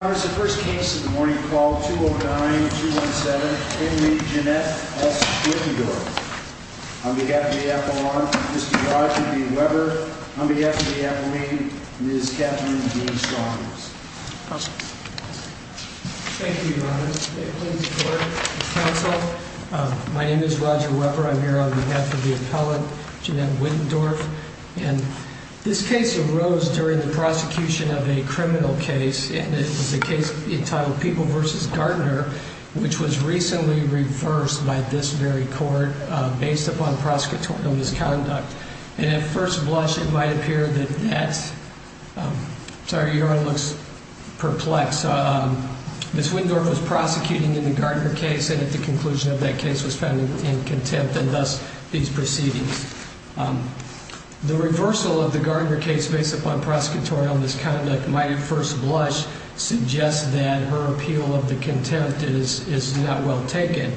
On behalf of the appellant, Mr. Roger B. Weber. On behalf of the appellant, Ms. Catherine D. Saunders. Thank you, Your Honor. Ladies and gentlemen, counsel, my name is Roger Weber. I'm here on behalf of the appellant, Geanette Whittendorf. And this case arose during the prosecution of a criminal case. And it was a case entitled People v. Gardner. Which was recently reversed by this very court based upon prosecutorial misconduct. And at first blush, it might appear that that's, sorry, Your Honor, looks perplexed. Ms. Whittendorf was prosecuting in the Gardner case and at the conclusion of that case was found in contempt. And thus, these proceedings. The reversal of the Gardner case based upon prosecutorial misconduct might at first blush suggest that her appeal of the contempt is not well taken.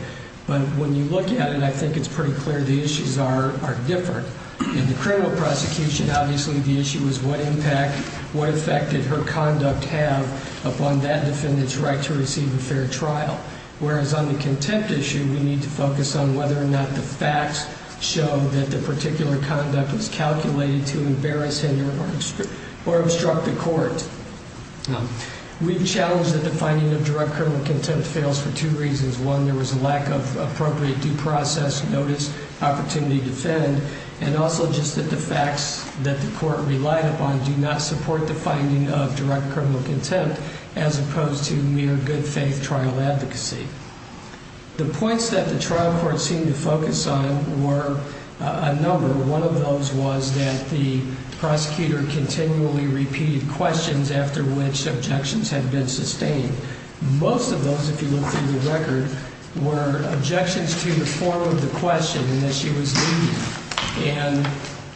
But when you look at it, I think it's pretty clear the issues are different. In the criminal prosecution, obviously the issue is what impact, what effect did her conduct have upon that defendant's right to receive a fair trial. Whereas on the contempt issue, we need to focus on whether or not the facts show that the particular conduct was calculated to embarrass, hinder, or obstruct the court. We've challenged that the finding of direct criminal contempt fails for two reasons. One, there was a lack of appropriate due process, notice, opportunity to defend. And also just that the facts that the court relied upon do not support the finding of direct criminal contempt as opposed to mere good faith trial advocacy. The points that the trial court seemed to focus on were a number. One of those was that the prosecutor continually repeated questions after which objections had been sustained. Most of those, if you look through the record, were objections to the form of the question and that she was leaving. And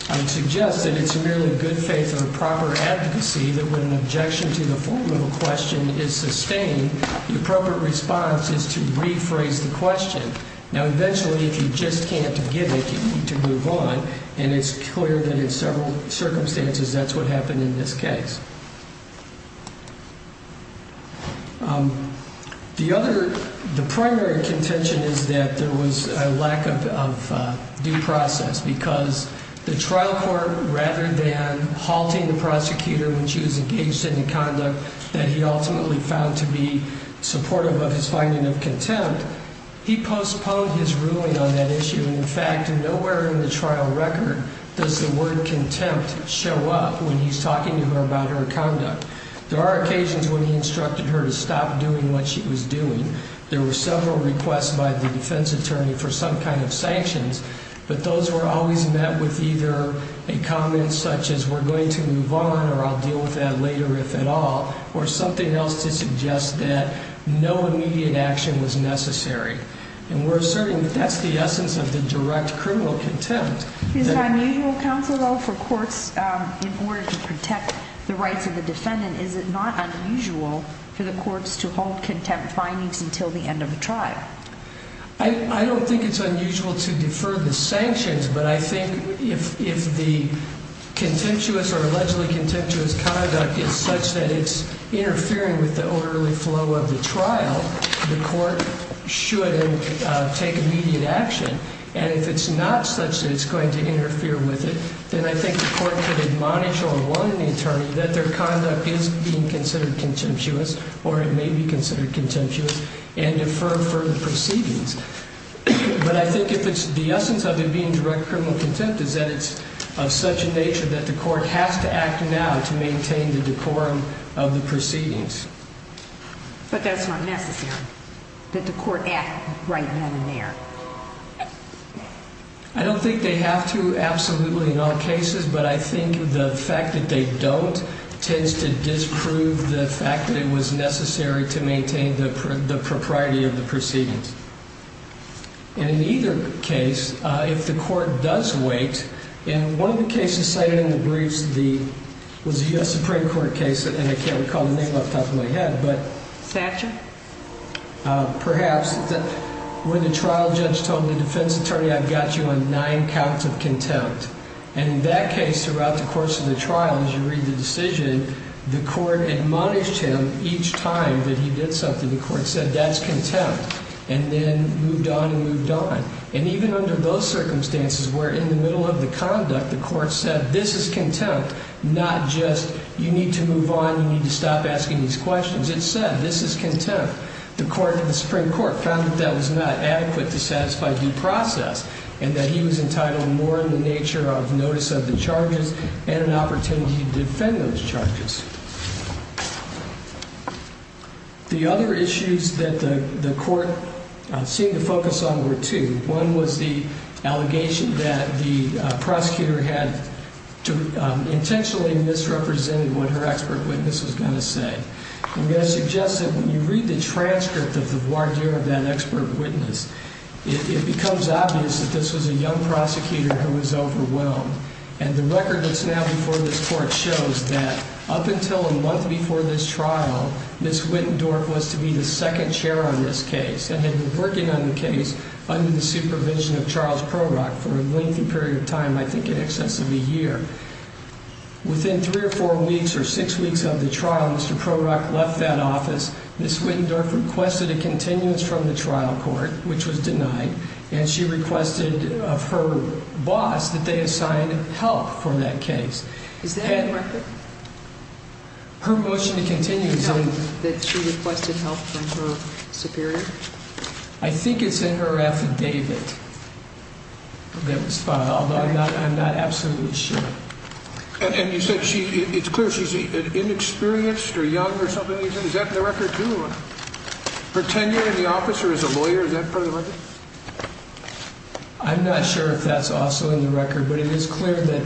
I would suggest that it's merely good faith or proper advocacy that when an objection to the form of a question is sustained, the appropriate response is to rephrase the question. Now, eventually, if you just can't give it, you need to move on. And it's clear that in several circumstances, that's what happened in this case. The other, the primary contention is that there was a lack of due process because the trial court, rather than halting the prosecutor when she was engaged in the conduct that he ultimately found to be supportive of his finding of contempt, he postponed his ruling on that issue. And, in fact, nowhere in the trial record does the word contempt show up when he's talking to her about her conduct. There are occasions when he instructed her to stop doing what she was doing. There were several requests by the defense attorney for some kind of sanctions, but those were always met with either a comment such as we're going to move on or I'll deal with that later, if at all, or something else to suggest that no immediate action was necessary. And we're asserting that that's the essence of the direct criminal contempt. Is it unusual, counsel, though, for courts, in order to protect the rights of the defendant, is it not unusual for the courts to hold contempt findings until the end of the trial? I don't think it's unusual to defer the sanctions, but I think if the contemptuous or allegedly contemptuous conduct is such that it's interfering with the orderly flow of the trial, the court should take immediate action. And if it's not such that it's going to interfere with it, then I think the court could admonish or warn the attorney that their conduct is being considered contemptuous or it may be considered contemptuous and defer further proceedings. But I think if it's the essence of it being direct criminal contempt is that it's of such a nature that the court has to act now to maintain the decorum of the proceedings. But that's not necessary, that the court act right then and there. I don't think they have to absolutely in all cases, but I think the fact that they don't tends to disprove the fact that it was necessary to maintain the propriety of the proceedings. And in either case, if the court does wait, and one of the cases cited in the briefs was a U.S. Supreme Court case, and I can't recall the name off the top of my head. Satchin? Perhaps. When the trial judge told the defense attorney, I've got you on nine counts of contempt. And in that case, throughout the course of the trial, as you read the decision, the court admonished him each time that he did something. The court said, that's contempt. And then moved on and moved on. And even under those circumstances where in the middle of the conduct, the court said, this is contempt, not just you need to move on, you need to stop asking these questions. It said, this is contempt. The Supreme Court found that that was not adequate to satisfy due process and that he was entitled more in the nature of notice of the charges and an opportunity to defend those charges. The other issues that the court seemed to focus on were two. One was the allegation that the prosecutor had intentionally misrepresented what her expert witness was going to say. I'm going to suggest that when you read the transcript of the voir dire of that expert witness, it becomes obvious that this was a young prosecutor who was overwhelmed. And the record that's now before this court shows that up until a month before this trial, Ms. Wittendorf was to be the second chair on this case. And had been working on the case under the supervision of Charles Prorock for a lengthy period of time, I think in excess of a year. Within three or four weeks or six weeks of the trial, Mr. Prorock left that office. Ms. Wittendorf requested a continuance from the trial court, which was denied. And she requested of her boss that they assign help for that case. Is that correct? Her motion to continue is in. Can you tell me that she requested help from her superior? I think it's in her affidavit that was filed. I'm not absolutely sure. And you said it's clear she's inexperienced or young or something. Is that in the record, too? Her tenure in the office or as a lawyer, is that part of the record? I'm not sure if that's also in the record. But it is clear that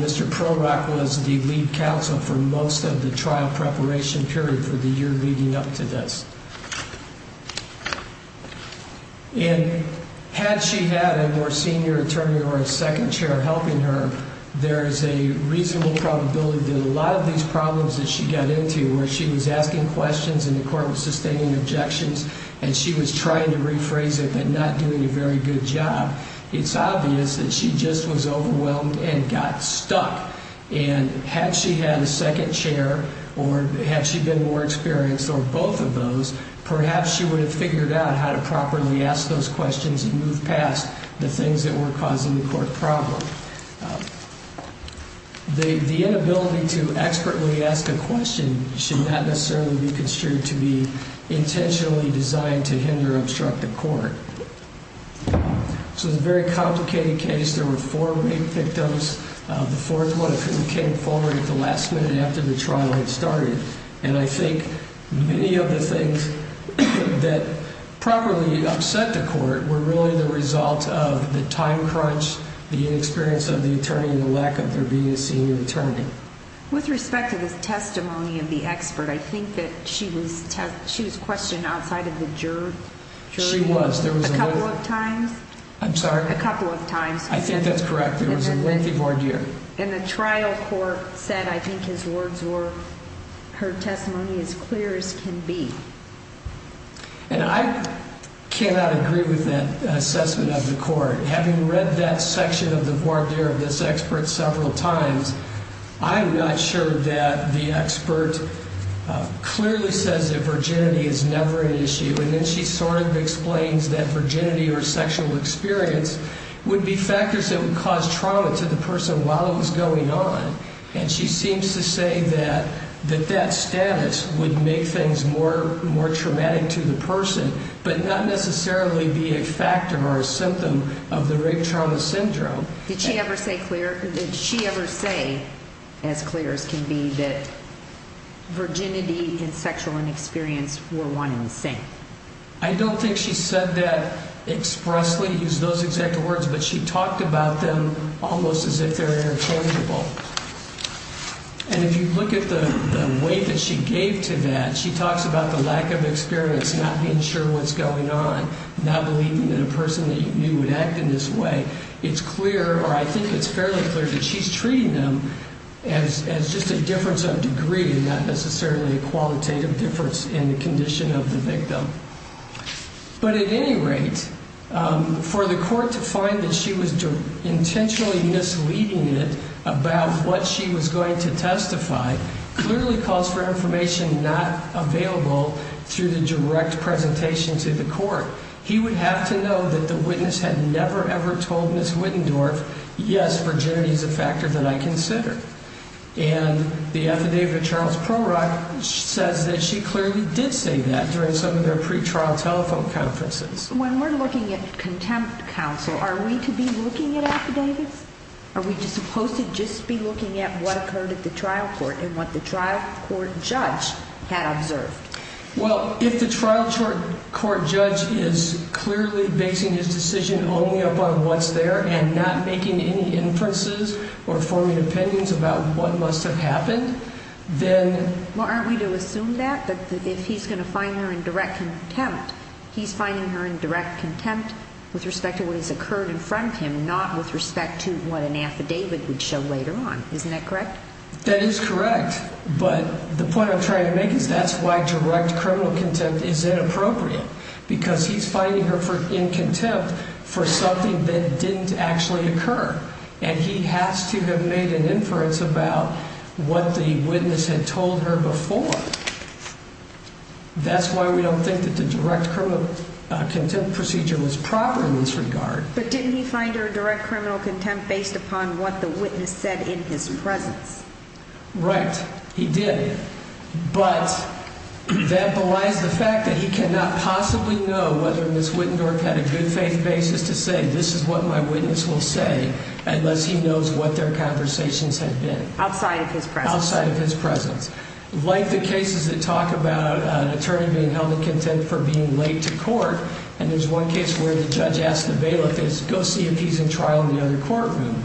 Mr. Prorock was the lead counsel for most of the trial preparation period for the year leading up to this. And had she had a more senior attorney or a second chair helping her, there is a reasonable probability that a lot of these problems that she got into, where she was asking questions and the court was sustaining objections and she was trying to rephrase it but not doing a very good job, it's obvious that she just was overwhelmed and got stuck. And had she had a second chair or had she been more experienced or both of those, perhaps she would have figured out how to properly ask those questions and move past the things that were causing the court problem. The inability to expertly ask a question should not necessarily be construed to be intentionally designed to hinder or obstruct the court. So it's a very complicated case. There were four main victims. The fourth one came forward at the last minute after the trial had started. And I think many of the things that probably upset the court were really the result of the time crunch, the inexperience of the attorney and the lack of there being a senior attorney. With respect to this testimony of the expert, I think that she was questioned outside of the jury. She was. A couple of times. I'm sorry? A couple of times. I think that's correct. It was a lengthy voir dire. And the trial court said I think his words were, her testimony is clear as can be. And I cannot agree with that assessment of the court. Having read that section of the voir dire of this expert several times, I'm not sure that the expert clearly says that virginity is never an issue. And then she sort of explains that virginity or sexual experience would be factors that would cause trauma to the person while it was going on. And she seems to say that that status would make things more traumatic to the person, but not necessarily be a factor or a symptom of the rape trauma syndrome. Did she ever say clear? Did she ever say, as clear as can be, that virginity and sexual inexperience were one and the same? I don't think she said that expressly, used those exact words, but she talked about them almost as if they're interchangeable. And if you look at the weight that she gave to that, she talks about the lack of experience, not being sure what's going on, not believing that a person that you knew would act in this way. It's clear, or I think it's fairly clear, that she's treating them as just a difference of degree and not necessarily a qualitative difference in the condition of the victim. But at any rate, for the court to find that she was intentionally misleading it about what she was going to testify clearly calls for information not available through the direct presentation to the court. He would have to know that the witness had never, ever told Ms. Wittendorf, yes, virginity is a factor that I consider. And the affidavit of Charles Prorock says that she clearly did say that during some of their pre-trial telephone conferences. When we're looking at contempt counsel, are we to be looking at affidavits? Are we supposed to just be looking at what occurred at the trial court and what the trial court judge had observed? Well, if the trial court judge is clearly basing his decision only upon what's there and not making any inferences or forming opinions about what must have happened, then... Well, aren't we to assume that? That if he's going to find her in direct contempt, he's finding her in direct contempt with respect to what has occurred in front of him, not with respect to what an affidavit would show later on. Isn't that correct? That is correct, but the point I'm trying to make is that's why direct criminal contempt is inappropriate because he's finding her in contempt for something that didn't actually occur. And he has to have made an inference about what the witness had told her before. That's why we don't think that the direct criminal contempt procedure was proper in this regard. But didn't he find her in direct criminal contempt based upon what the witness said in his presence? Right, he did. But that belies the fact that he cannot possibly know whether Ms. Wittendorf had a good faith basis to say, this is what my witness will say, unless he knows what their conversations had been. Outside of his presence. Outside of his presence. Like the cases that talk about an attorney being held in contempt for being late to court, and there's one case where the judge asked the bailiff, go see if he's in trial in the other courtroom.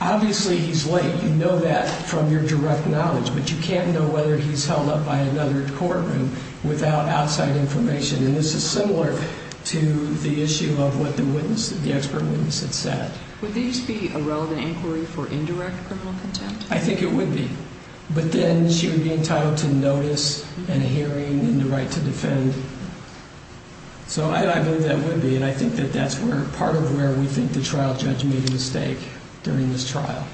Obviously he's late. You know that from your direct knowledge, but you can't know whether he's held up by another courtroom without outside information. And this is similar to the issue of what the expert witness had said. Would these be a relevant inquiry for indirect criminal contempt? I think it would be. But then she would be entitled to notice and a hearing and the right to defend. So I believe that would be, and I think that that's part of where we think the trial judge made a mistake during this trial.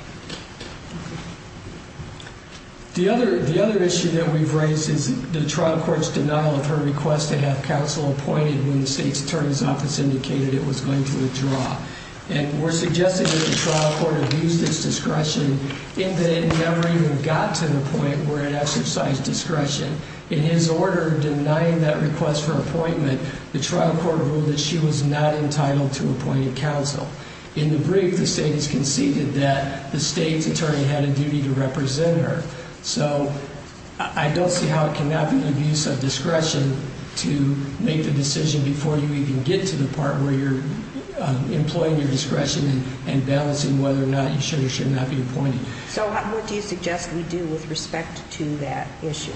The other issue that we've raised is the trial court's denial of her request to have counsel appointed when the state's attorney's office indicated it was going to withdraw. And we're suggesting that the trial court abused its discretion in that it never even got to the point where it exercised discretion. In his order denying that request for appointment, the trial court ruled that she was not entitled to appointed counsel. In the brief, the state has conceded that the state's attorney had a duty to represent her. So I don't see how it cannot be an abuse of discretion to make the decision before you even get to the part where you're employing your discretion and balancing whether or not you should or should not be appointed. So what do you suggest we do with respect to that issue?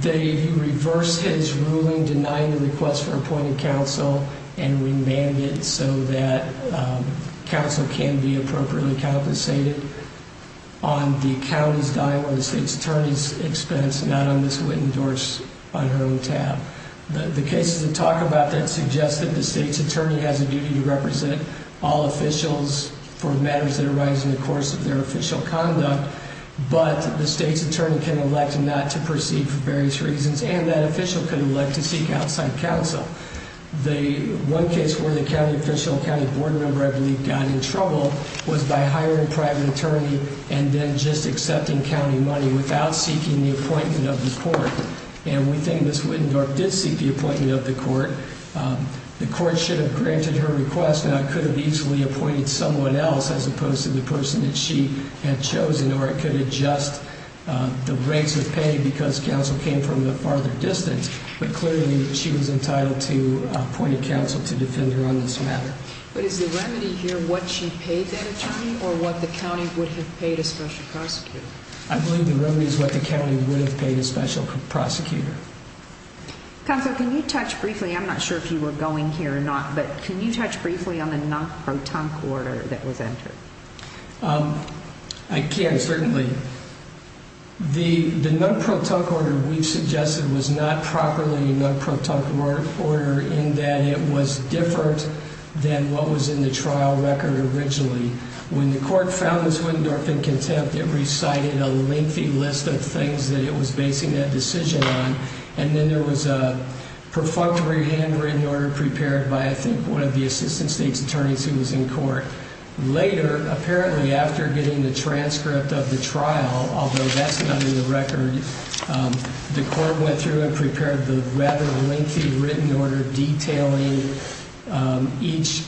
They reverse his ruling denying the request for appointed counsel and remanded so that counsel can be appropriately compensated on the county's dime or the state's attorney's expense, not on this wit and dors on her own tab. The cases that talk about that suggest that the state's attorney has a duty to represent all officials for matters that arise in the course of their official conduct. But the state's attorney can elect not to proceed for various reasons, and that official can elect to seek outside counsel. The one case where the county official, county board member, I believe, got in trouble was by hiring a private attorney and then just accepting county money without seeking the appointment of the court. And we think Ms. Wittendorf did seek the appointment of the court. The court should have granted her request, and I could have easily appointed someone else as opposed to the person that she had chosen, or I could adjust the rates of pay because counsel came from a farther distance. But clearly, she was entitled to appointed counsel to defend her on this matter. But is the remedy here what she paid that attorney or what the county would have paid a special prosecutor? I believe the remedy is what the county would have paid a special prosecutor. Counsel, can you touch briefly, I'm not sure if you were going here or not, but can you touch briefly on the non-pro-tunk order that was entered? I can, certainly. The non-pro-tunk order we've suggested was not properly a non-pro-tunk order in that it was different than what was in the trial record originally. When the court found Ms. Wittendorf in contempt, it recited a lengthy list of things that it was basing that decision on. And then there was a perfunctory handwritten order prepared by, I think, one of the assistant state's attorneys who was in court. Later, apparently after getting the transcript of the trial, although that's not in the record, the court went through and prepared the rather lengthy written order detailing each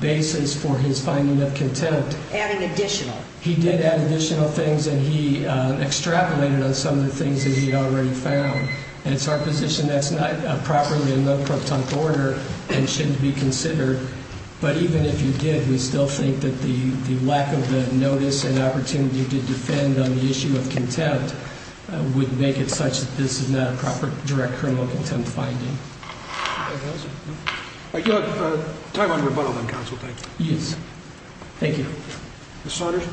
basis for his finding of contempt. Adding additional. He did add additional things, and he extrapolated on some of the things that he already found. And it's our position that's not properly a non-pro-tunk order and shouldn't be considered. But even if you did, we still think that the lack of the notice and opportunity to defend on the issue of contempt would make it such that this is not a proper direct criminal contempt finding. Time on rebuttal then, counsel, thank you. Yes. Thank you. Ms. Saunders?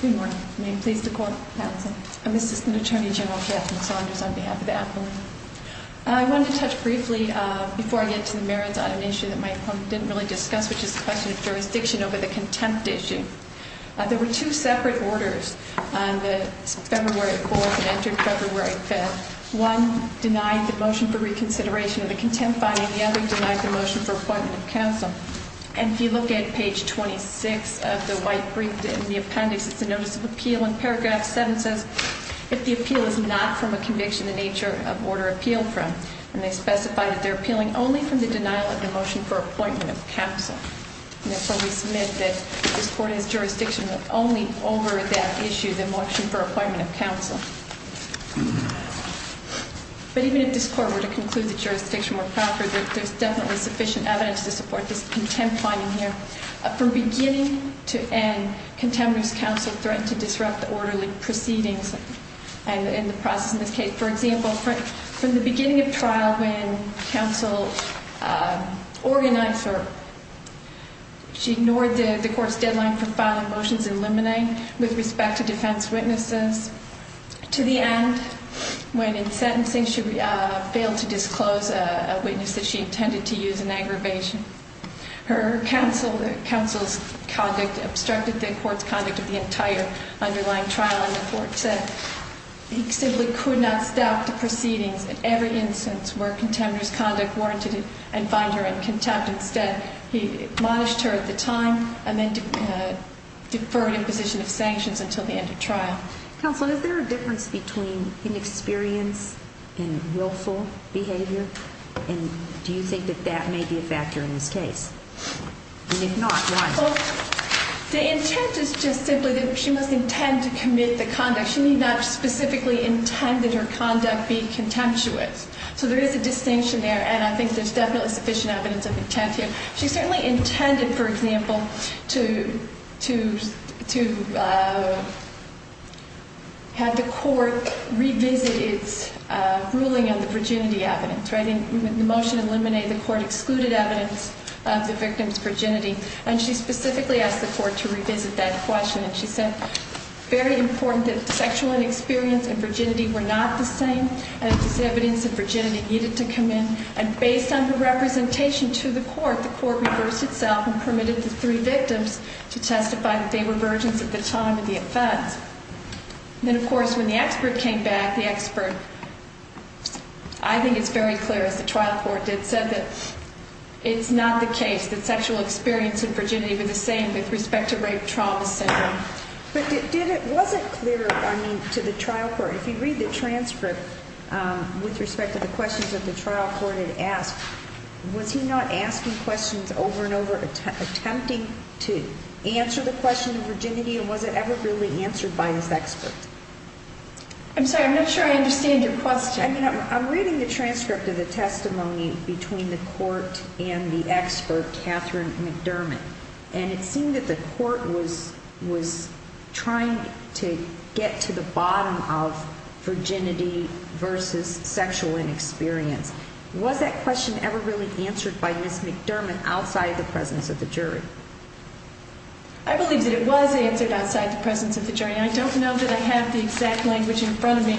Good morning. May it please the court. Counsel. I'm Assistant Attorney General Kathleen Saunders on behalf of the appellee. I wanted to touch briefly before I get to the merits on an issue that my opponent didn't really discuss, which is the question of jurisdiction over the contempt issue. There were two separate orders on the February 4th and entered February 5th. One denied the motion for reconsideration of the contempt finding. The other denied the motion for appointment of counsel. And if you look at page 26 of the white brief in the appendix, it's a notice of appeal. And paragraph 7 says, if the appeal is not from a conviction, the nature of order appealed from. And they specify that they're appealing only from the denial of the motion for appointment of counsel. Therefore, we submit that this court has jurisdiction only over that issue, the motion for appointment of counsel. But even if this court were to conclude that jurisdiction were proper, there's definitely sufficient evidence to support this contempt finding here. From beginning to end, contempt is counsel's threat to disrupt the orderly proceedings and the process in this case. For example, from the beginning of trial, when counsel organized her, she ignored the court's deadline for filing motions in limine with respect to defense witnesses. To the end, when in sentencing, she failed to disclose a witness that she intended to use in aggravation. Her counsel's conduct obstructed the court's conduct of the entire underlying trial and the court said he simply could not stop the proceedings at every instance where contemptuous conduct warranted and find her in contempt. Instead, he admonished her at the time and then deferred imposition of sanctions until the end of trial. Counsel, is there a difference between inexperience and willful behavior? And do you think that that may be a factor in this case? And if not, why? The intent is just simply that she must intend to commit the conduct. She did not specifically intend that her conduct be contemptuous. So there is a distinction there, and I think there's definitely sufficient evidence of intent here. She certainly intended, for example, to have the court revisit its ruling on the virginity evidence. In the motion in limine, the court excluded evidence of the victim's virginity, and she specifically asked the court to revisit that question. And she said, very important that sexual inexperience and virginity were not the same, and it was evidence that virginity needed to come in. And based on the representation to the court, the court reversed itself and permitted the three victims to testify that they were virgins at the time of the offense. Then, of course, when the expert came back, the expert, I think it's very clear, as the trial court did, said that it's not the case that sexual experience and virginity were the same with respect to rape trauma syndrome. But it wasn't clear, I mean, to the trial court. If you read the transcript with respect to the questions that the trial court had asked, was he not asking questions over and over, attempting to answer the question of virginity, and was it ever really answered by this expert? I'm sorry, I'm not sure I understand your question. I'm reading the transcript of the testimony between the court and the expert, Catherine McDermott, and it seemed that the court was trying to get to the bottom of virginity versus sexual inexperience. Was that question ever really answered by Ms. McDermott outside of the presence of the jury? I believe that it was answered outside the presence of the jury. I don't know that I have the exact language in front of me.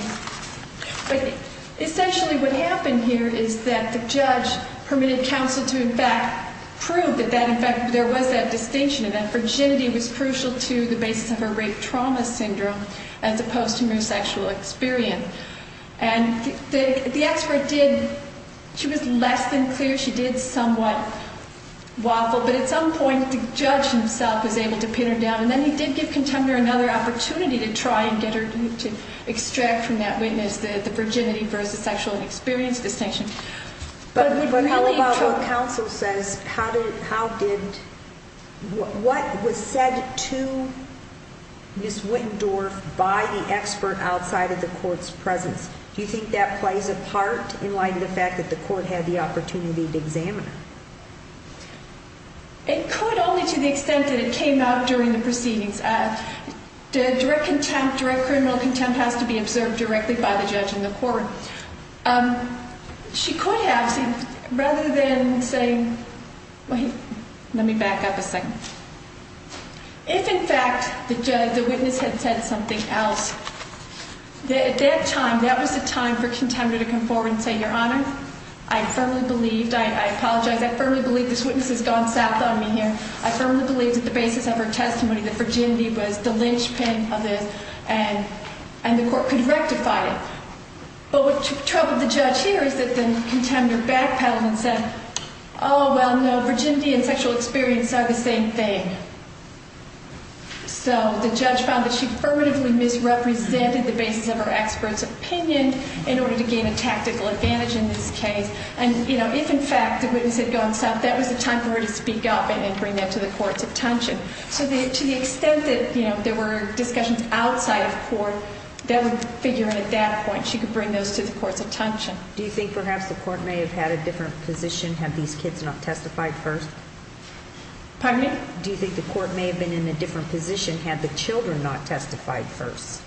But essentially what happened here is that the judge permitted counsel to, in fact, prove that there was that distinction, that virginity was crucial to the basis of her rape trauma syndrome as opposed to mere sexual experience. And the expert did, she was less than clear, she did somewhat waffle, but at some point the judge himself was able to pin her down. And then he did give contender another opportunity to try and get her to extract from that witness the virginity versus sexual experience distinction. But how about what counsel says, how did, what was said to Ms. Wittendorf by the expert outside of the court's presence? Do you think that plays a part in light of the fact that the court had the opportunity to examine her? It could only to the extent that it came out during the proceedings. Direct contempt, direct criminal contempt has to be observed directly by the judge and the court. She could have, rather than saying, wait, let me back up a second. If, in fact, the judge, the witness had said something else, at that time, that was the time for contender to come forward and say, Your Honor, I firmly believe, I apologize, I firmly believe this witness has gone south on me here. I firmly believe that the basis of her testimony, the virginity was the linchpin of this and the court could rectify it. But what troubled the judge here is that the contender backpedaled and said, Oh, well, no, virginity and sexual experience are the same thing. So the judge found that she affirmatively misrepresented the basis of her expert's opinion in order to gain a tactical advantage in this case. And, you know, if, in fact, the witness had gone south, that was the time for her to speak up and bring that to the court's attention. So to the extent that, you know, there were discussions outside of court, that would figure at that point, she could bring those to the court's attention. Do you think perhaps the court may have had a different position had these kids not testified first? Pardon me? Do you think the court may have been in a different position had the children not testified first?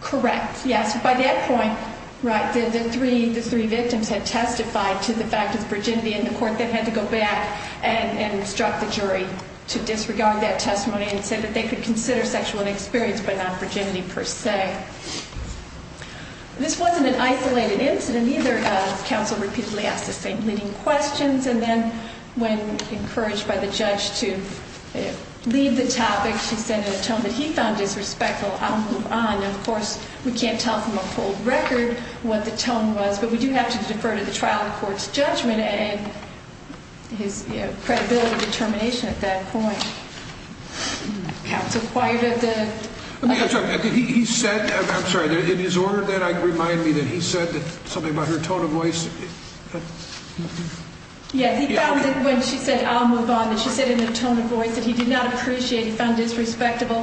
Correct, yes. By that point, right, the three victims had testified to the fact of virginity and the court then had to go back and instruct the jury to disregard that testimony and said that they could consider sexual experience but not virginity per se. This wasn't an isolated incident either. Counsel repeatedly asked the same leading questions and then when encouraged by the judge to leave the topic, she said in a tone that he found disrespectful, I'll move on. And, of course, we can't tell from a full record what the tone was, but we do have to defer to the trial court's judgment and his credibility determination at that point. Counsel quieted the... He said, I'm sorry, in his order then, remind me that he said something about her tone of voice. Yeah, he found that when she said, I'll move on, that she said it in a tone of voice that he did not appreciate. He found disrespectful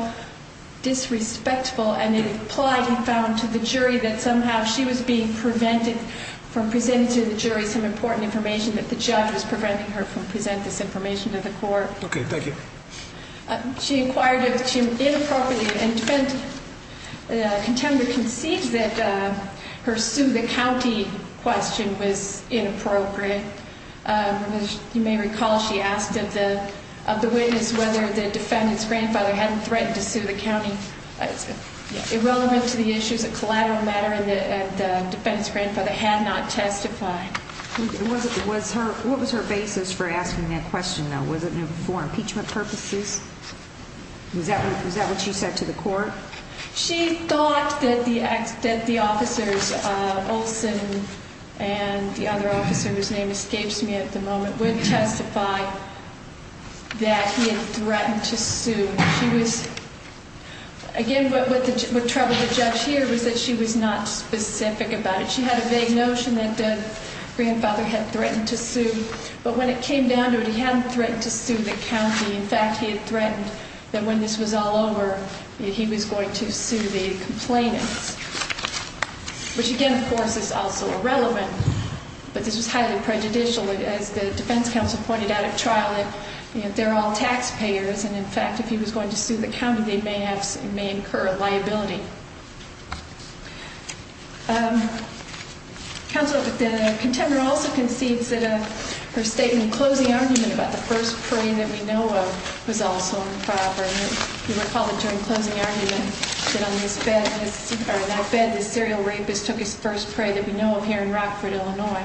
and implied he found to the jury that somehow she was being prevented from presenting to the jury some important information that the judge was preventing her from presenting this information to the court. Okay, thank you. She inquired if she was inappropriate and the contender concedes that her sue the county question was inappropriate. You may recall she asked of the witness whether the defendant's grandfather had threatened to sue the county. Irrelevant to the issues of collateral matter, the defendant's grandfather had not testified. What was her basis for asking that question, though? Was it for impeachment purposes? Was that what she said to the court? She thought that the officers, Olson and the other officer, whose name escapes me at the moment, would testify that he had threatened to sue. Again, what troubled the judge here was that she was not specific about it. She had a vague notion that the grandfather had threatened to sue, but when it came down to it, he hadn't threatened to sue the county. In fact, he had threatened that when this was all over, he was going to sue the complainants, which again, of course, is also irrelevant, but this was highly prejudicial. As the defense counsel pointed out at trial, they're all taxpayers, and in fact, if he was going to sue the county, they may incur a liability. Counsel, the contender also concedes that her statement in closing argument about the first prey that we know of was also improper. You may recall that during closing argument, that on this bed, this serial rapist took his first prey that we know of here in Rockford, Illinois.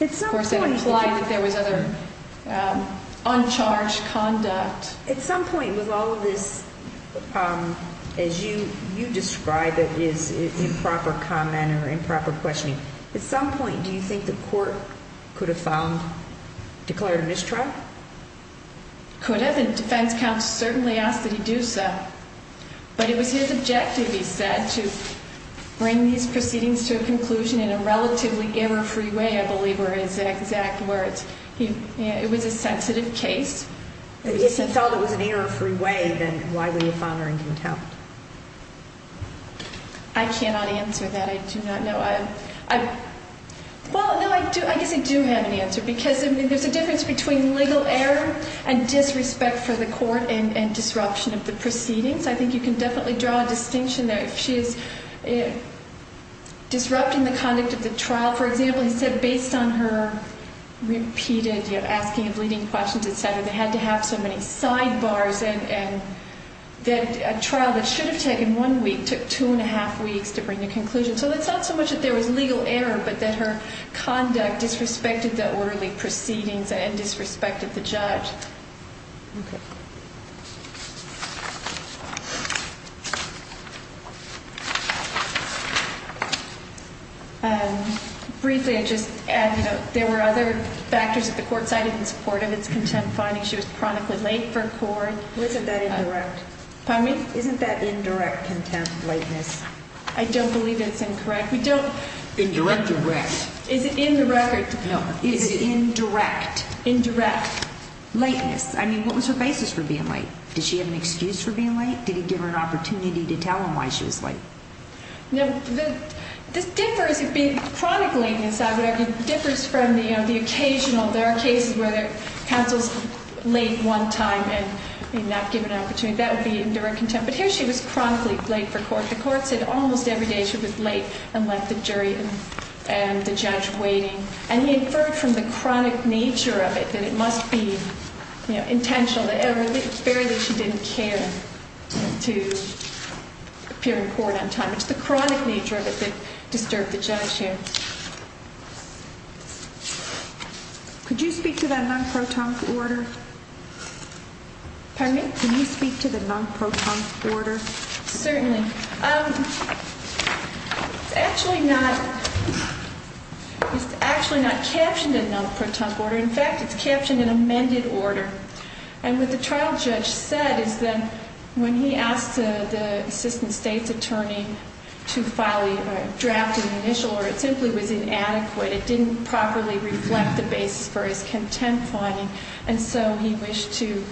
Of course, that implied that there was other uncharged conduct. At some point with all of this, as you describe it as improper comment or improper questioning, at some point, do you think the court could have found, declared a mistrial? Could have, and defense counsel certainly asked that he do so, but it was his objective, he said, to bring these proceedings to a conclusion in a relatively error-free way, I believe were his exact words. It was a sensitive case. If he felt it was an error-free way, then why would he find her in contempt? I cannot answer that. I do not know. Well, no, I guess I do have an answer because there's a difference between legal error and disrespect for the court and disruption of the proceedings. I think you can definitely draw a distinction there. If she is disrupting the conduct of the trial, for example, he said based on her repeated asking and pleading questions, et cetera, they had to have so many sidebars, and that a trial that should have taken one week took two and a half weeks to bring to conclusion. So it's not so much that there was legal error, but that her conduct disrespected the orderly proceedings and disrespected the judge. Okay. Briefly, I'd just add, you know, there were other factors that the court cited in support of its contempt finding. She was chronically late for court. Well, isn't that indirect? Pardon me? Isn't that indirect contempt, lateness? I don't believe it's incorrect. We don't... Indirect or rect? Is it indirect? No. Is it indirect? Indirect. Lateness. I mean, what was her basis for being late? Did she have an excuse for being late? Did he give her an opportunity to tell him why she was late? No. This differs. Chronic lateness, I would argue, differs from the occasional. There are cases where the counsel is late one time and may not give an opportunity. That would be indirect contempt. But here she was chronically late for court. The court said almost every day she was late and left the jury and the judge waiting. And he inferred from the chronic nature of it that it must be, you know, intentional that barely she didn't care to appear in court on time. It's the chronic nature of it that disturbed the judge here. Could you speak to that non-protonic order? Pardon me? Can you speak to the non-protonic order? Certainly. It's actually not captioned in non-protonic order. In fact, it's captioned in amended order. And what the trial judge said is that when he asked the assistant state's attorney to file a draft in the initial order, it simply was inadequate. It didn't properly reflect the basis for his contempt finding. And so he wished to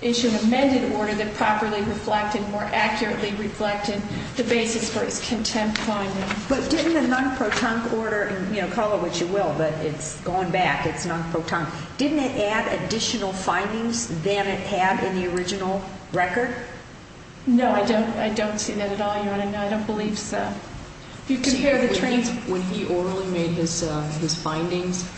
issue an amended order that properly reflected, more accurately reflected the basis for his contempt finding. But didn't the non-protonic order, you know, call it what you will, but it's going back. It's non-protonic. Didn't it add additional findings than it had in the original record? No, I don't see that at all, Your Honor. No, I don't believe so. When he orally made his findings,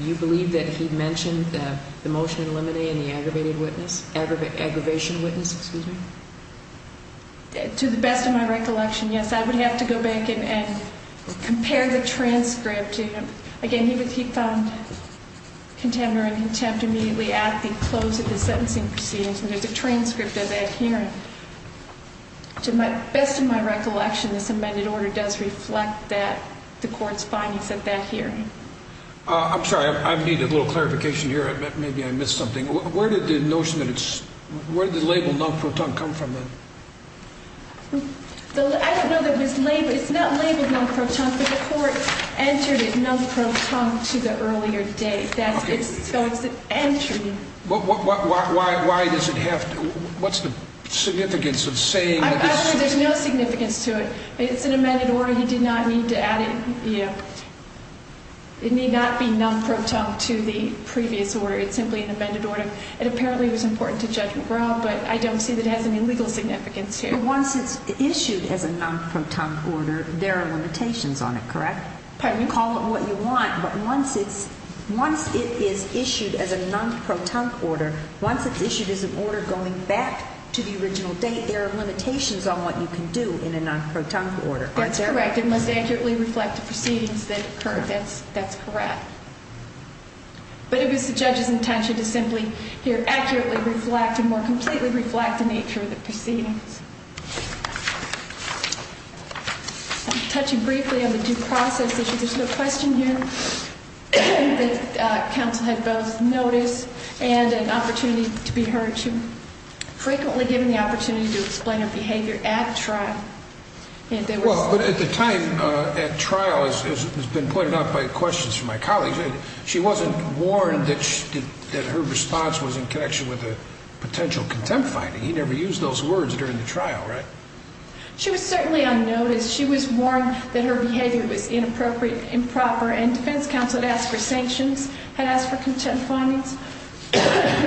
you believe that he mentioned the motion in limine and the aggravated witness, aggravation witness, excuse me? To the best of my recollection, yes. I would have to go back and compare the transcript. Again, he found contempt immediately at the close of the sentencing proceedings, and there's a transcript of that hearing. To the best of my recollection, this amended order does reflect the court's findings at that hearing. I'm sorry, I need a little clarification here. Maybe I missed something. Where did the notion that it's, where did the label non-protonic come from then? I don't know that it was labeled, it's not labeled non-protonic, but the court entered it non-protonic to the earlier date. So it's an entry. Why does it have to, what's the significance of saying that this? I believe there's no significance to it. It's an amended order, he did not need to add it, yeah. It need not be non-protonic to the previous order, it's simply an amended order. It apparently was important to Judge McGraw, but I don't see that it has any legal significance here. But once it's issued as a non-protonic order, there are limitations on it, correct? Pardon me? You call it what you want, but once it's, once it is issued as a non-protonic order, once it's issued as an order going back to the original date, there are limitations on what you can do in a non-protonic order, aren't there? That's correct, it must accurately reflect the proceedings that occurred, that's correct. But it was the judge's intention to simply, here, I'm touching briefly on the due process issue. There's a question here that counsel had both notice and an opportunity to be heard. She was frequently given the opportunity to explain her behavior at trial. Well, but at the time, at trial, as has been pointed out by questions from my colleagues, she wasn't warned that her response was in connection with a potential contempt finding. He never used those words during the trial, right? She was certainly unnoticed. She was warned that her behavior was inappropriate, improper, and defense counsel had asked for sanctions, had asked for contempt findings.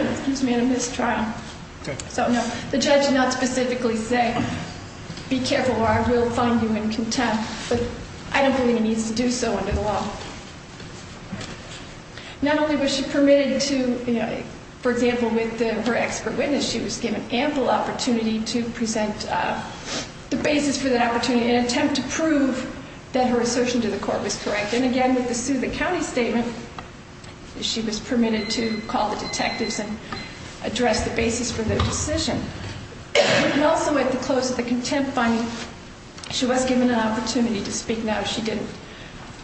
Excuse me, I missed trial. Okay. So, no, the judge did not specifically say, be careful or I will find you in contempt. But I don't believe he needs to do so under the law. Not only was she permitted to, for example, with her expert witness, she was given ample opportunity to present the basis for that opportunity in an attempt to prove that her assertion to the court was correct. And again, with the Southant County statement, she was permitted to call the detectives and address the basis for their decision. And also at the close of the contempt finding, she was given an opportunity to speak. Now, she didn't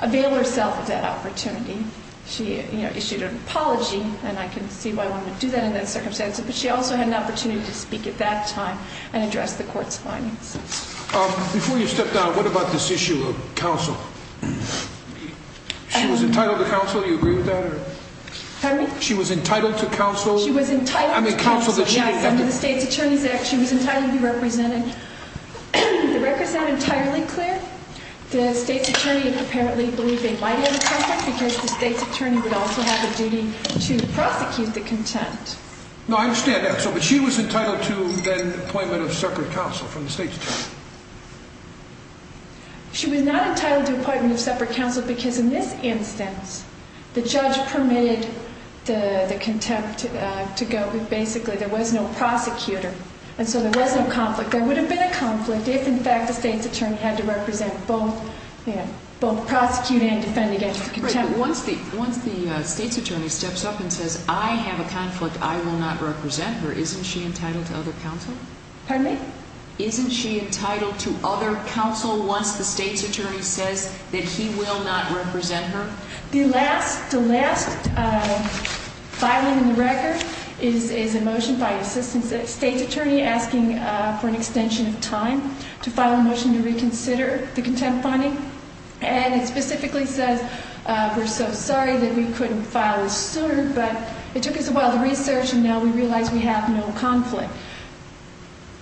avail herself of that opportunity. She, you know, issued an apology, and I can see why one would do that in that circumstance. But she also had an opportunity to speak at that time and address the court's findings. Before you step down, what about this issue of counsel? She was entitled to counsel. Do you agree with that? Pardon me? She was entitled to counsel. She was entitled to counsel, yes, under the State's Attorney's Act. She was entitled to be represented. The records sound entirely clear. The State's Attorney apparently believed they might have a conflict because the State's Attorney would also have a duty to prosecute the contempt. No, I understand that. But she was entitled to an appointment of separate counsel from the State's Attorney. She was not entitled to an appointment of separate counsel because in this instance, the judge permitted the contempt to go. Basically, there was no prosecutor, and so there was no conflict. There would have been a conflict if, in fact, the State's Attorney had to represent both prosecuting and defending against contempt. Once the State's Attorney steps up and says, I have a conflict, I will not represent her, isn't she entitled to other counsel? Pardon me? Isn't she entitled to other counsel once the State's Attorney says that he will not represent her? The last filing in the record is a motion by the State's Attorney asking for an extension of time to file a motion to reconsider the contempt finding. And it specifically says, we're so sorry that we couldn't file this sooner, but it took us a while to research, and now we realize we have no conflict.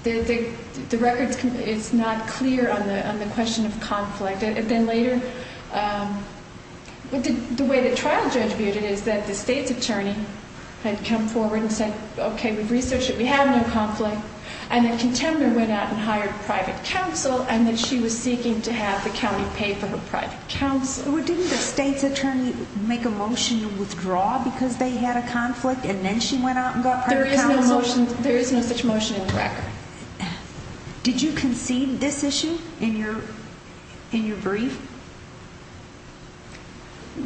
The record is not clear on the question of conflict. And then later, the way the trial judge viewed it is that the State's Attorney had come forward and said, okay, we've researched it, we have no conflict, and the contempt went out and hired private counsel, and that she was seeking to have the county pay for her private counsel. Well, didn't the State's Attorney make a motion to withdraw because they had a conflict, and then she went out and got private counsel? There is no such motion in the record. Did you concede this issue in your brief?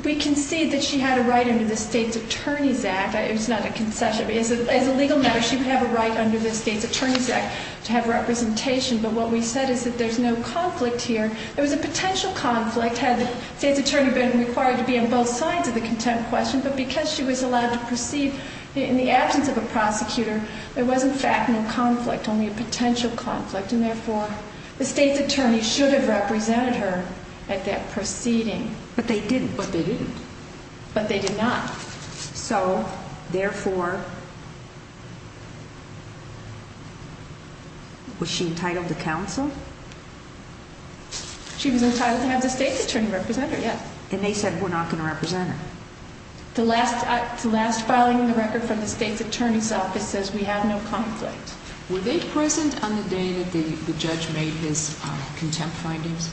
We conceded that she had a right under the State's Attorney's Act. It's not a concession. As a legal matter, she would have a right under the State's Attorney's Act to have representation, but what we said is that there's no conflict here. There was a potential conflict had the State's Attorney been required to be on both sides of the contempt question, but because she was allowed to proceed in the absence of a prosecutor, there was, in fact, no conflict, only a potential conflict, and therefore, the State's Attorney should have represented her at that proceeding. But they didn't. But they didn't. But they did not. So, therefore, was she entitled to counsel? She was entitled to have the State's Attorney represent her, yes. And they said, we're not going to represent her. The last filing in the record from the State's Attorney's Office says we have no conflict. Were they present on the day that the judge made his contempt findings?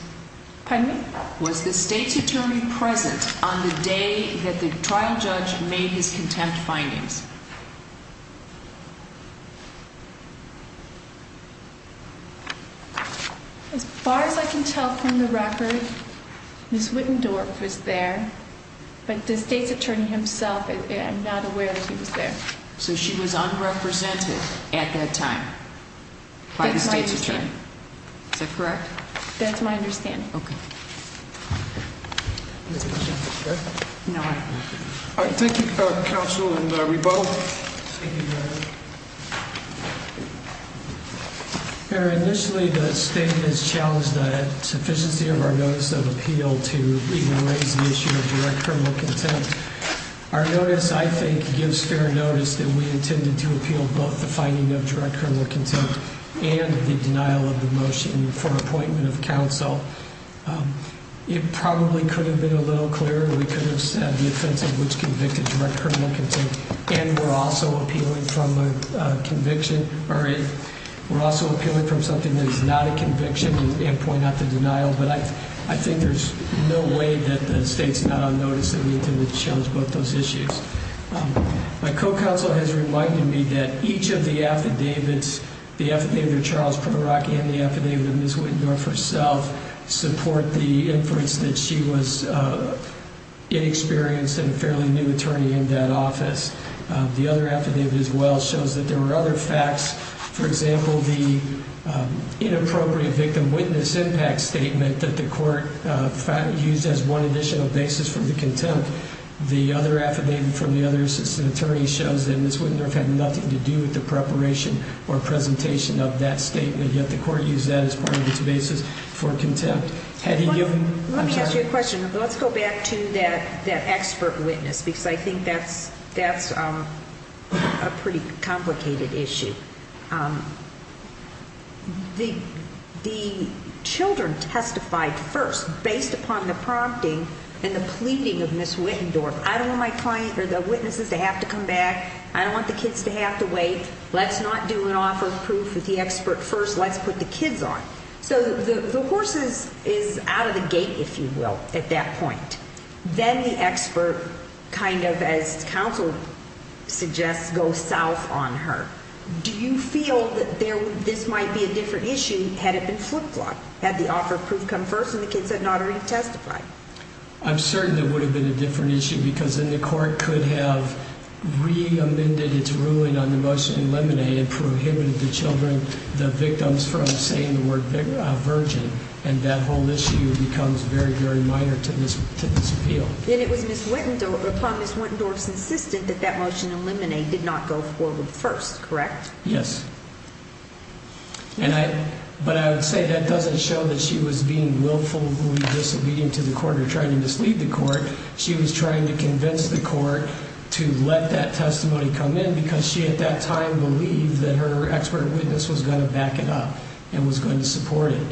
Pardon me? Was the State's Attorney present on the day that the trial judge made his contempt findings? As far as I can tell from the record, Ms. Wittendorf was there, but the State's Attorney himself, I'm not aware that he was there. So she was unrepresented at that time by the State's Attorney. Is that correct? That's my understanding. Okay. Thank you, Counsel, and we vote. Initially, the State has challenged the sufficiency of our notice of appeal to even raise the issue of direct criminal contempt. Our notice, I think, gives fair notice that we intended to appeal both the finding of direct criminal contempt and the denial of the motion for appointment of counsel. It probably could have been a little clearer. We could have said the offense of which convicted direct criminal contempt, and we're also appealing from a conviction, or we're also appealing from something that is not a conviction and point out the denial. But I think there's no way that the State's not on notice that we intended to challenge both those issues. My co-counsel has reminded me that each of the affidavits, the affidavit of Charles Primark and the affidavit of Ms. Wittendorf herself, support the inference that she was inexperienced and a fairly new attorney in that office. The other affidavit, as well, shows that there were other facts. For example, the inappropriate victim witness impact statement that the court used as one additional basis for the contempt. The other affidavit from the other assistant attorney shows that Ms. Wittendorf had nothing to do with the preparation or presentation of that statement, yet the court used that as part of its basis for contempt. Let me ask you a question. Let's go back to that expert witness because I think that's a pretty complicated issue. The children testified first based upon the prompting and the pleading of Ms. Wittendorf. I don't want my client or the witnesses to have to come back. I don't want the kids to have to wait. Let's not do an offer of proof with the expert first. Let's put the kids on. So the horse is out of the gate, if you will, at that point. Then the expert, kind of as counsel suggests, goes south on her. Do you feel that this might be a different issue had it been flip-flopped, had the offer of proof come first and the kids had not already testified? I'm certain it would have been a different issue because then the court could have re-amended its ruling on the motion in limine and prohibited the children, the victims, from saying the word virgin. And that whole issue becomes very, very minor to this appeal. Then it was upon Ms. Wittendorf's insistence that that motion in limine did not go forward first, correct? Yes. But I would say that doesn't show that she was being willful or disobedient to the court or trying to mislead the court. She was trying to convince the court to let that testimony come in because she at that time believed that her expert witness was going to back it up and was going to support it.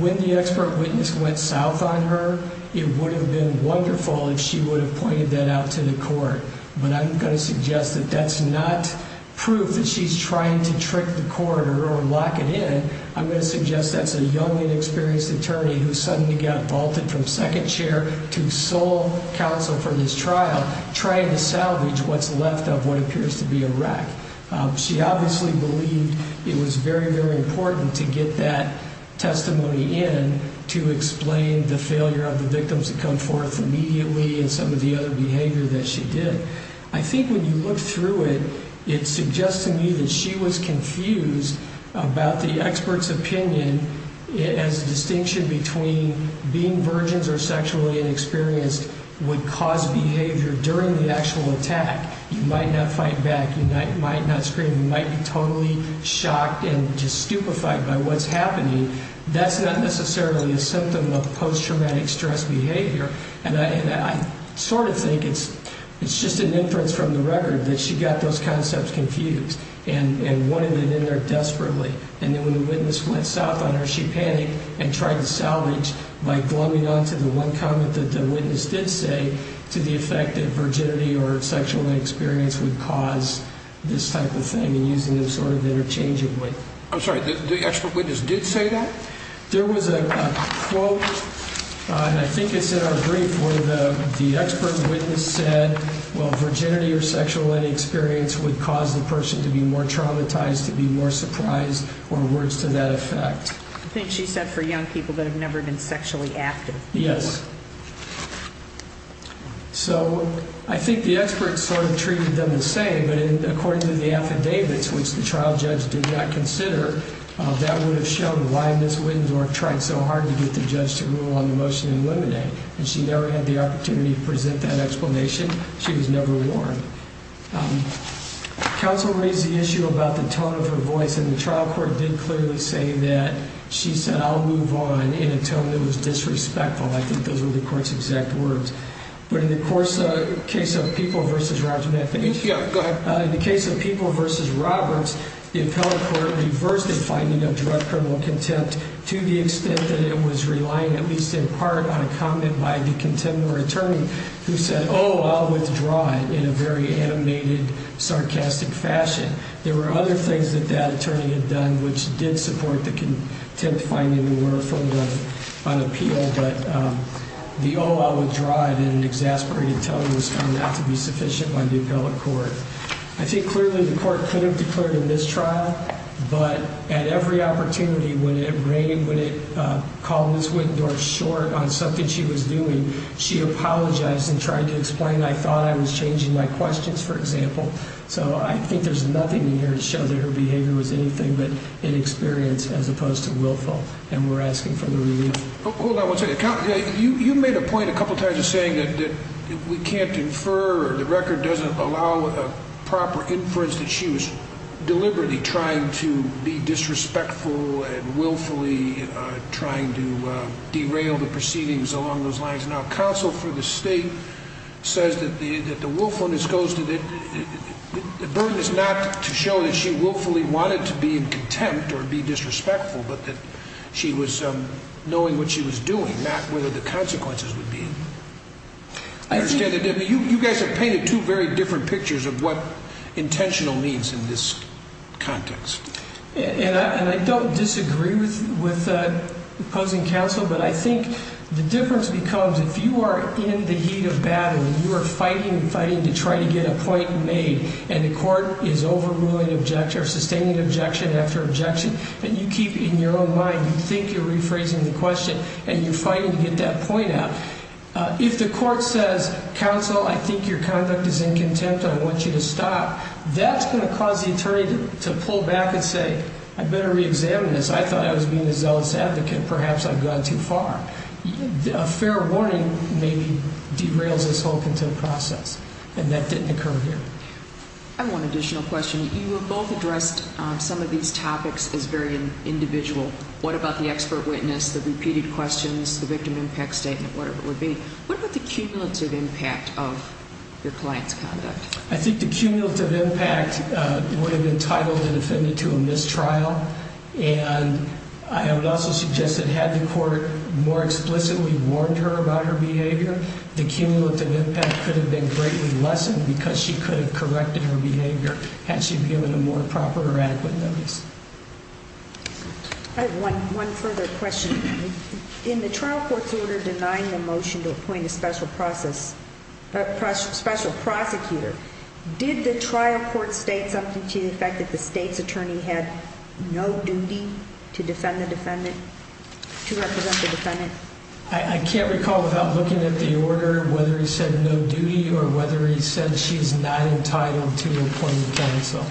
When the expert witness went south on her, it would have been wonderful if she would have pointed that out to the court. But I'm going to suggest that that's not proof that she's trying to trick the court or lock it in. I'm going to suggest that's a young and experienced attorney who suddenly got vaulted from second chair to sole counsel for this trial, trying to salvage what's left of what appears to be a wreck. She obviously believed it was very, very important to get that testimony in to explain the failure of the victims to come forth immediately and some of the other behavior that she did. I think when you look through it, it suggests to me that she was confused about the expert's opinion as a distinction between being virgins or sexually inexperienced would cause behavior during the actual attack. You might not fight back. You might not scream. You might be totally shocked and just stupefied by what's happening. That's not necessarily a symptom of post-traumatic stress behavior. And I sort of think it's just an inference from the record that she got those concepts confused and wanted it in there desperately. And then when the witness went south on her, she panicked and tried to salvage by glomming on to the one comment that the witness did say to the effect that virginity or sexual inexperience would cause this type of thing and using them sort of interchangeably. I'm sorry, the expert witness did say that? There was a quote, and I think it's in our brief, where the expert witness said, well, virginity or sexual inexperience would cause the person to be more traumatized, to be more surprised, or words to that effect. I think she said for young people that have never been sexually active. Yes. So I think the experts sort of treated them the same, but according to the affidavits, which the trial judge did not consider, that would have shown why Ms. Wittendorf tried so hard to get the judge to rule on the motion and eliminate. And she never had the opportunity to present that explanation. She was never warned. Counsel raised the issue about the tone of her voice, and the trial court did clearly say that she said I'll move on in a tone that was disrespectful. I think those were the court's exact words. But in the case of People v. Roberts, the appellate court reversed the finding of drug criminal contempt to the extent that it was relying, at least in part, on a comment by the contemporary attorney who said, oh, I'll withdraw it in a very animated, sarcastic fashion. There were other things that that attorney had done, which did support the contempt finding were full of unappeal, but the oh, I'll withdraw it in an exasperated tone was found not to be sufficient by the appellate court. I think clearly the court could have declared a mistrial, but at every opportunity, when it rained, when it called Ms. Wittendorf short on something she was doing, she apologized and tried to explain I thought I was changing my questions, for example. So I think there's nothing in here to show that her behavior was anything but inexperienced as opposed to willful, and we're asking for the review. Hold on one second. You made a point a couple times of saying that we can't infer, the record doesn't allow a proper inference that she was deliberately trying to be disrespectful and willfully trying to derail the proceedings along those lines. Now counsel for the state says that the willfulness goes to the, the burden is not to show that she willfully wanted to be in contempt or be disrespectful, but that she was knowing what she was doing, not whether the consequences would be. I understand that you guys have painted two very different pictures of what intentional means in this context. And I don't disagree with opposing counsel, but I think the difference becomes if you are in the heat of battle and you are fighting and fighting to try to get a point made, and the court is overruling objection or sustaining objection after objection, and you keep in your own mind, you think you're rephrasing the question and you're fighting to get that point out. If the court says, counsel, I think your conduct is in contempt. I want you to stop. That's going to cause the attorney to pull back and say, I better reexamine this. I thought I was being a zealous advocate. Perhaps I've gone too far. A fair warning maybe derails this whole content process. And that didn't occur here. I have one additional question. You have both addressed some of these topics as very individual. What about the expert witness, the repeated questions, the victim impact statement, whatever it would be. What about the cumulative impact of your client's conduct? I think the cumulative impact would have entitled the defendant to a mistrial. And I would also suggest that had the court more explicitly warned her about her behavior, the cumulative impact could have been greatly lessened because she could have corrected her behavior had she given a more proper or adequate notice. I have one further question. In the trial court's order denying the motion to appoint a special process, a special prosecutor, did the trial court state something to the effect that the state's attorney had no duty to defend the defendant to represent the defendant? I can't recall without looking at the order, whether he said no duty or whether he said she's not entitled to appoint counsel.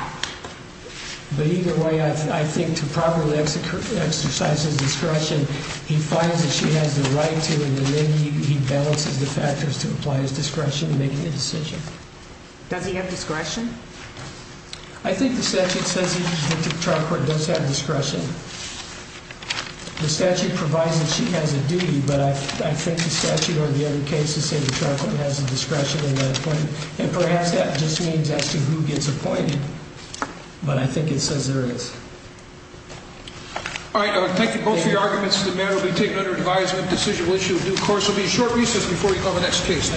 But either way, I think to properly exercise his discretion, he finds that she has the right to and then he balances the factors to apply his discretion in making the decision. Does he have discretion? I think the statute says that the trial court does have discretion. The statute provides that she has a duty, but I think the statute or the other cases say the trial court has a discretion in not appointing. And perhaps that just means as to who gets appointed, but I think it says there is. All right. Thank you both for your arguments. The matter will be taken under advisement. Decision will issue a new course. There will be a short recess before we cover the next case.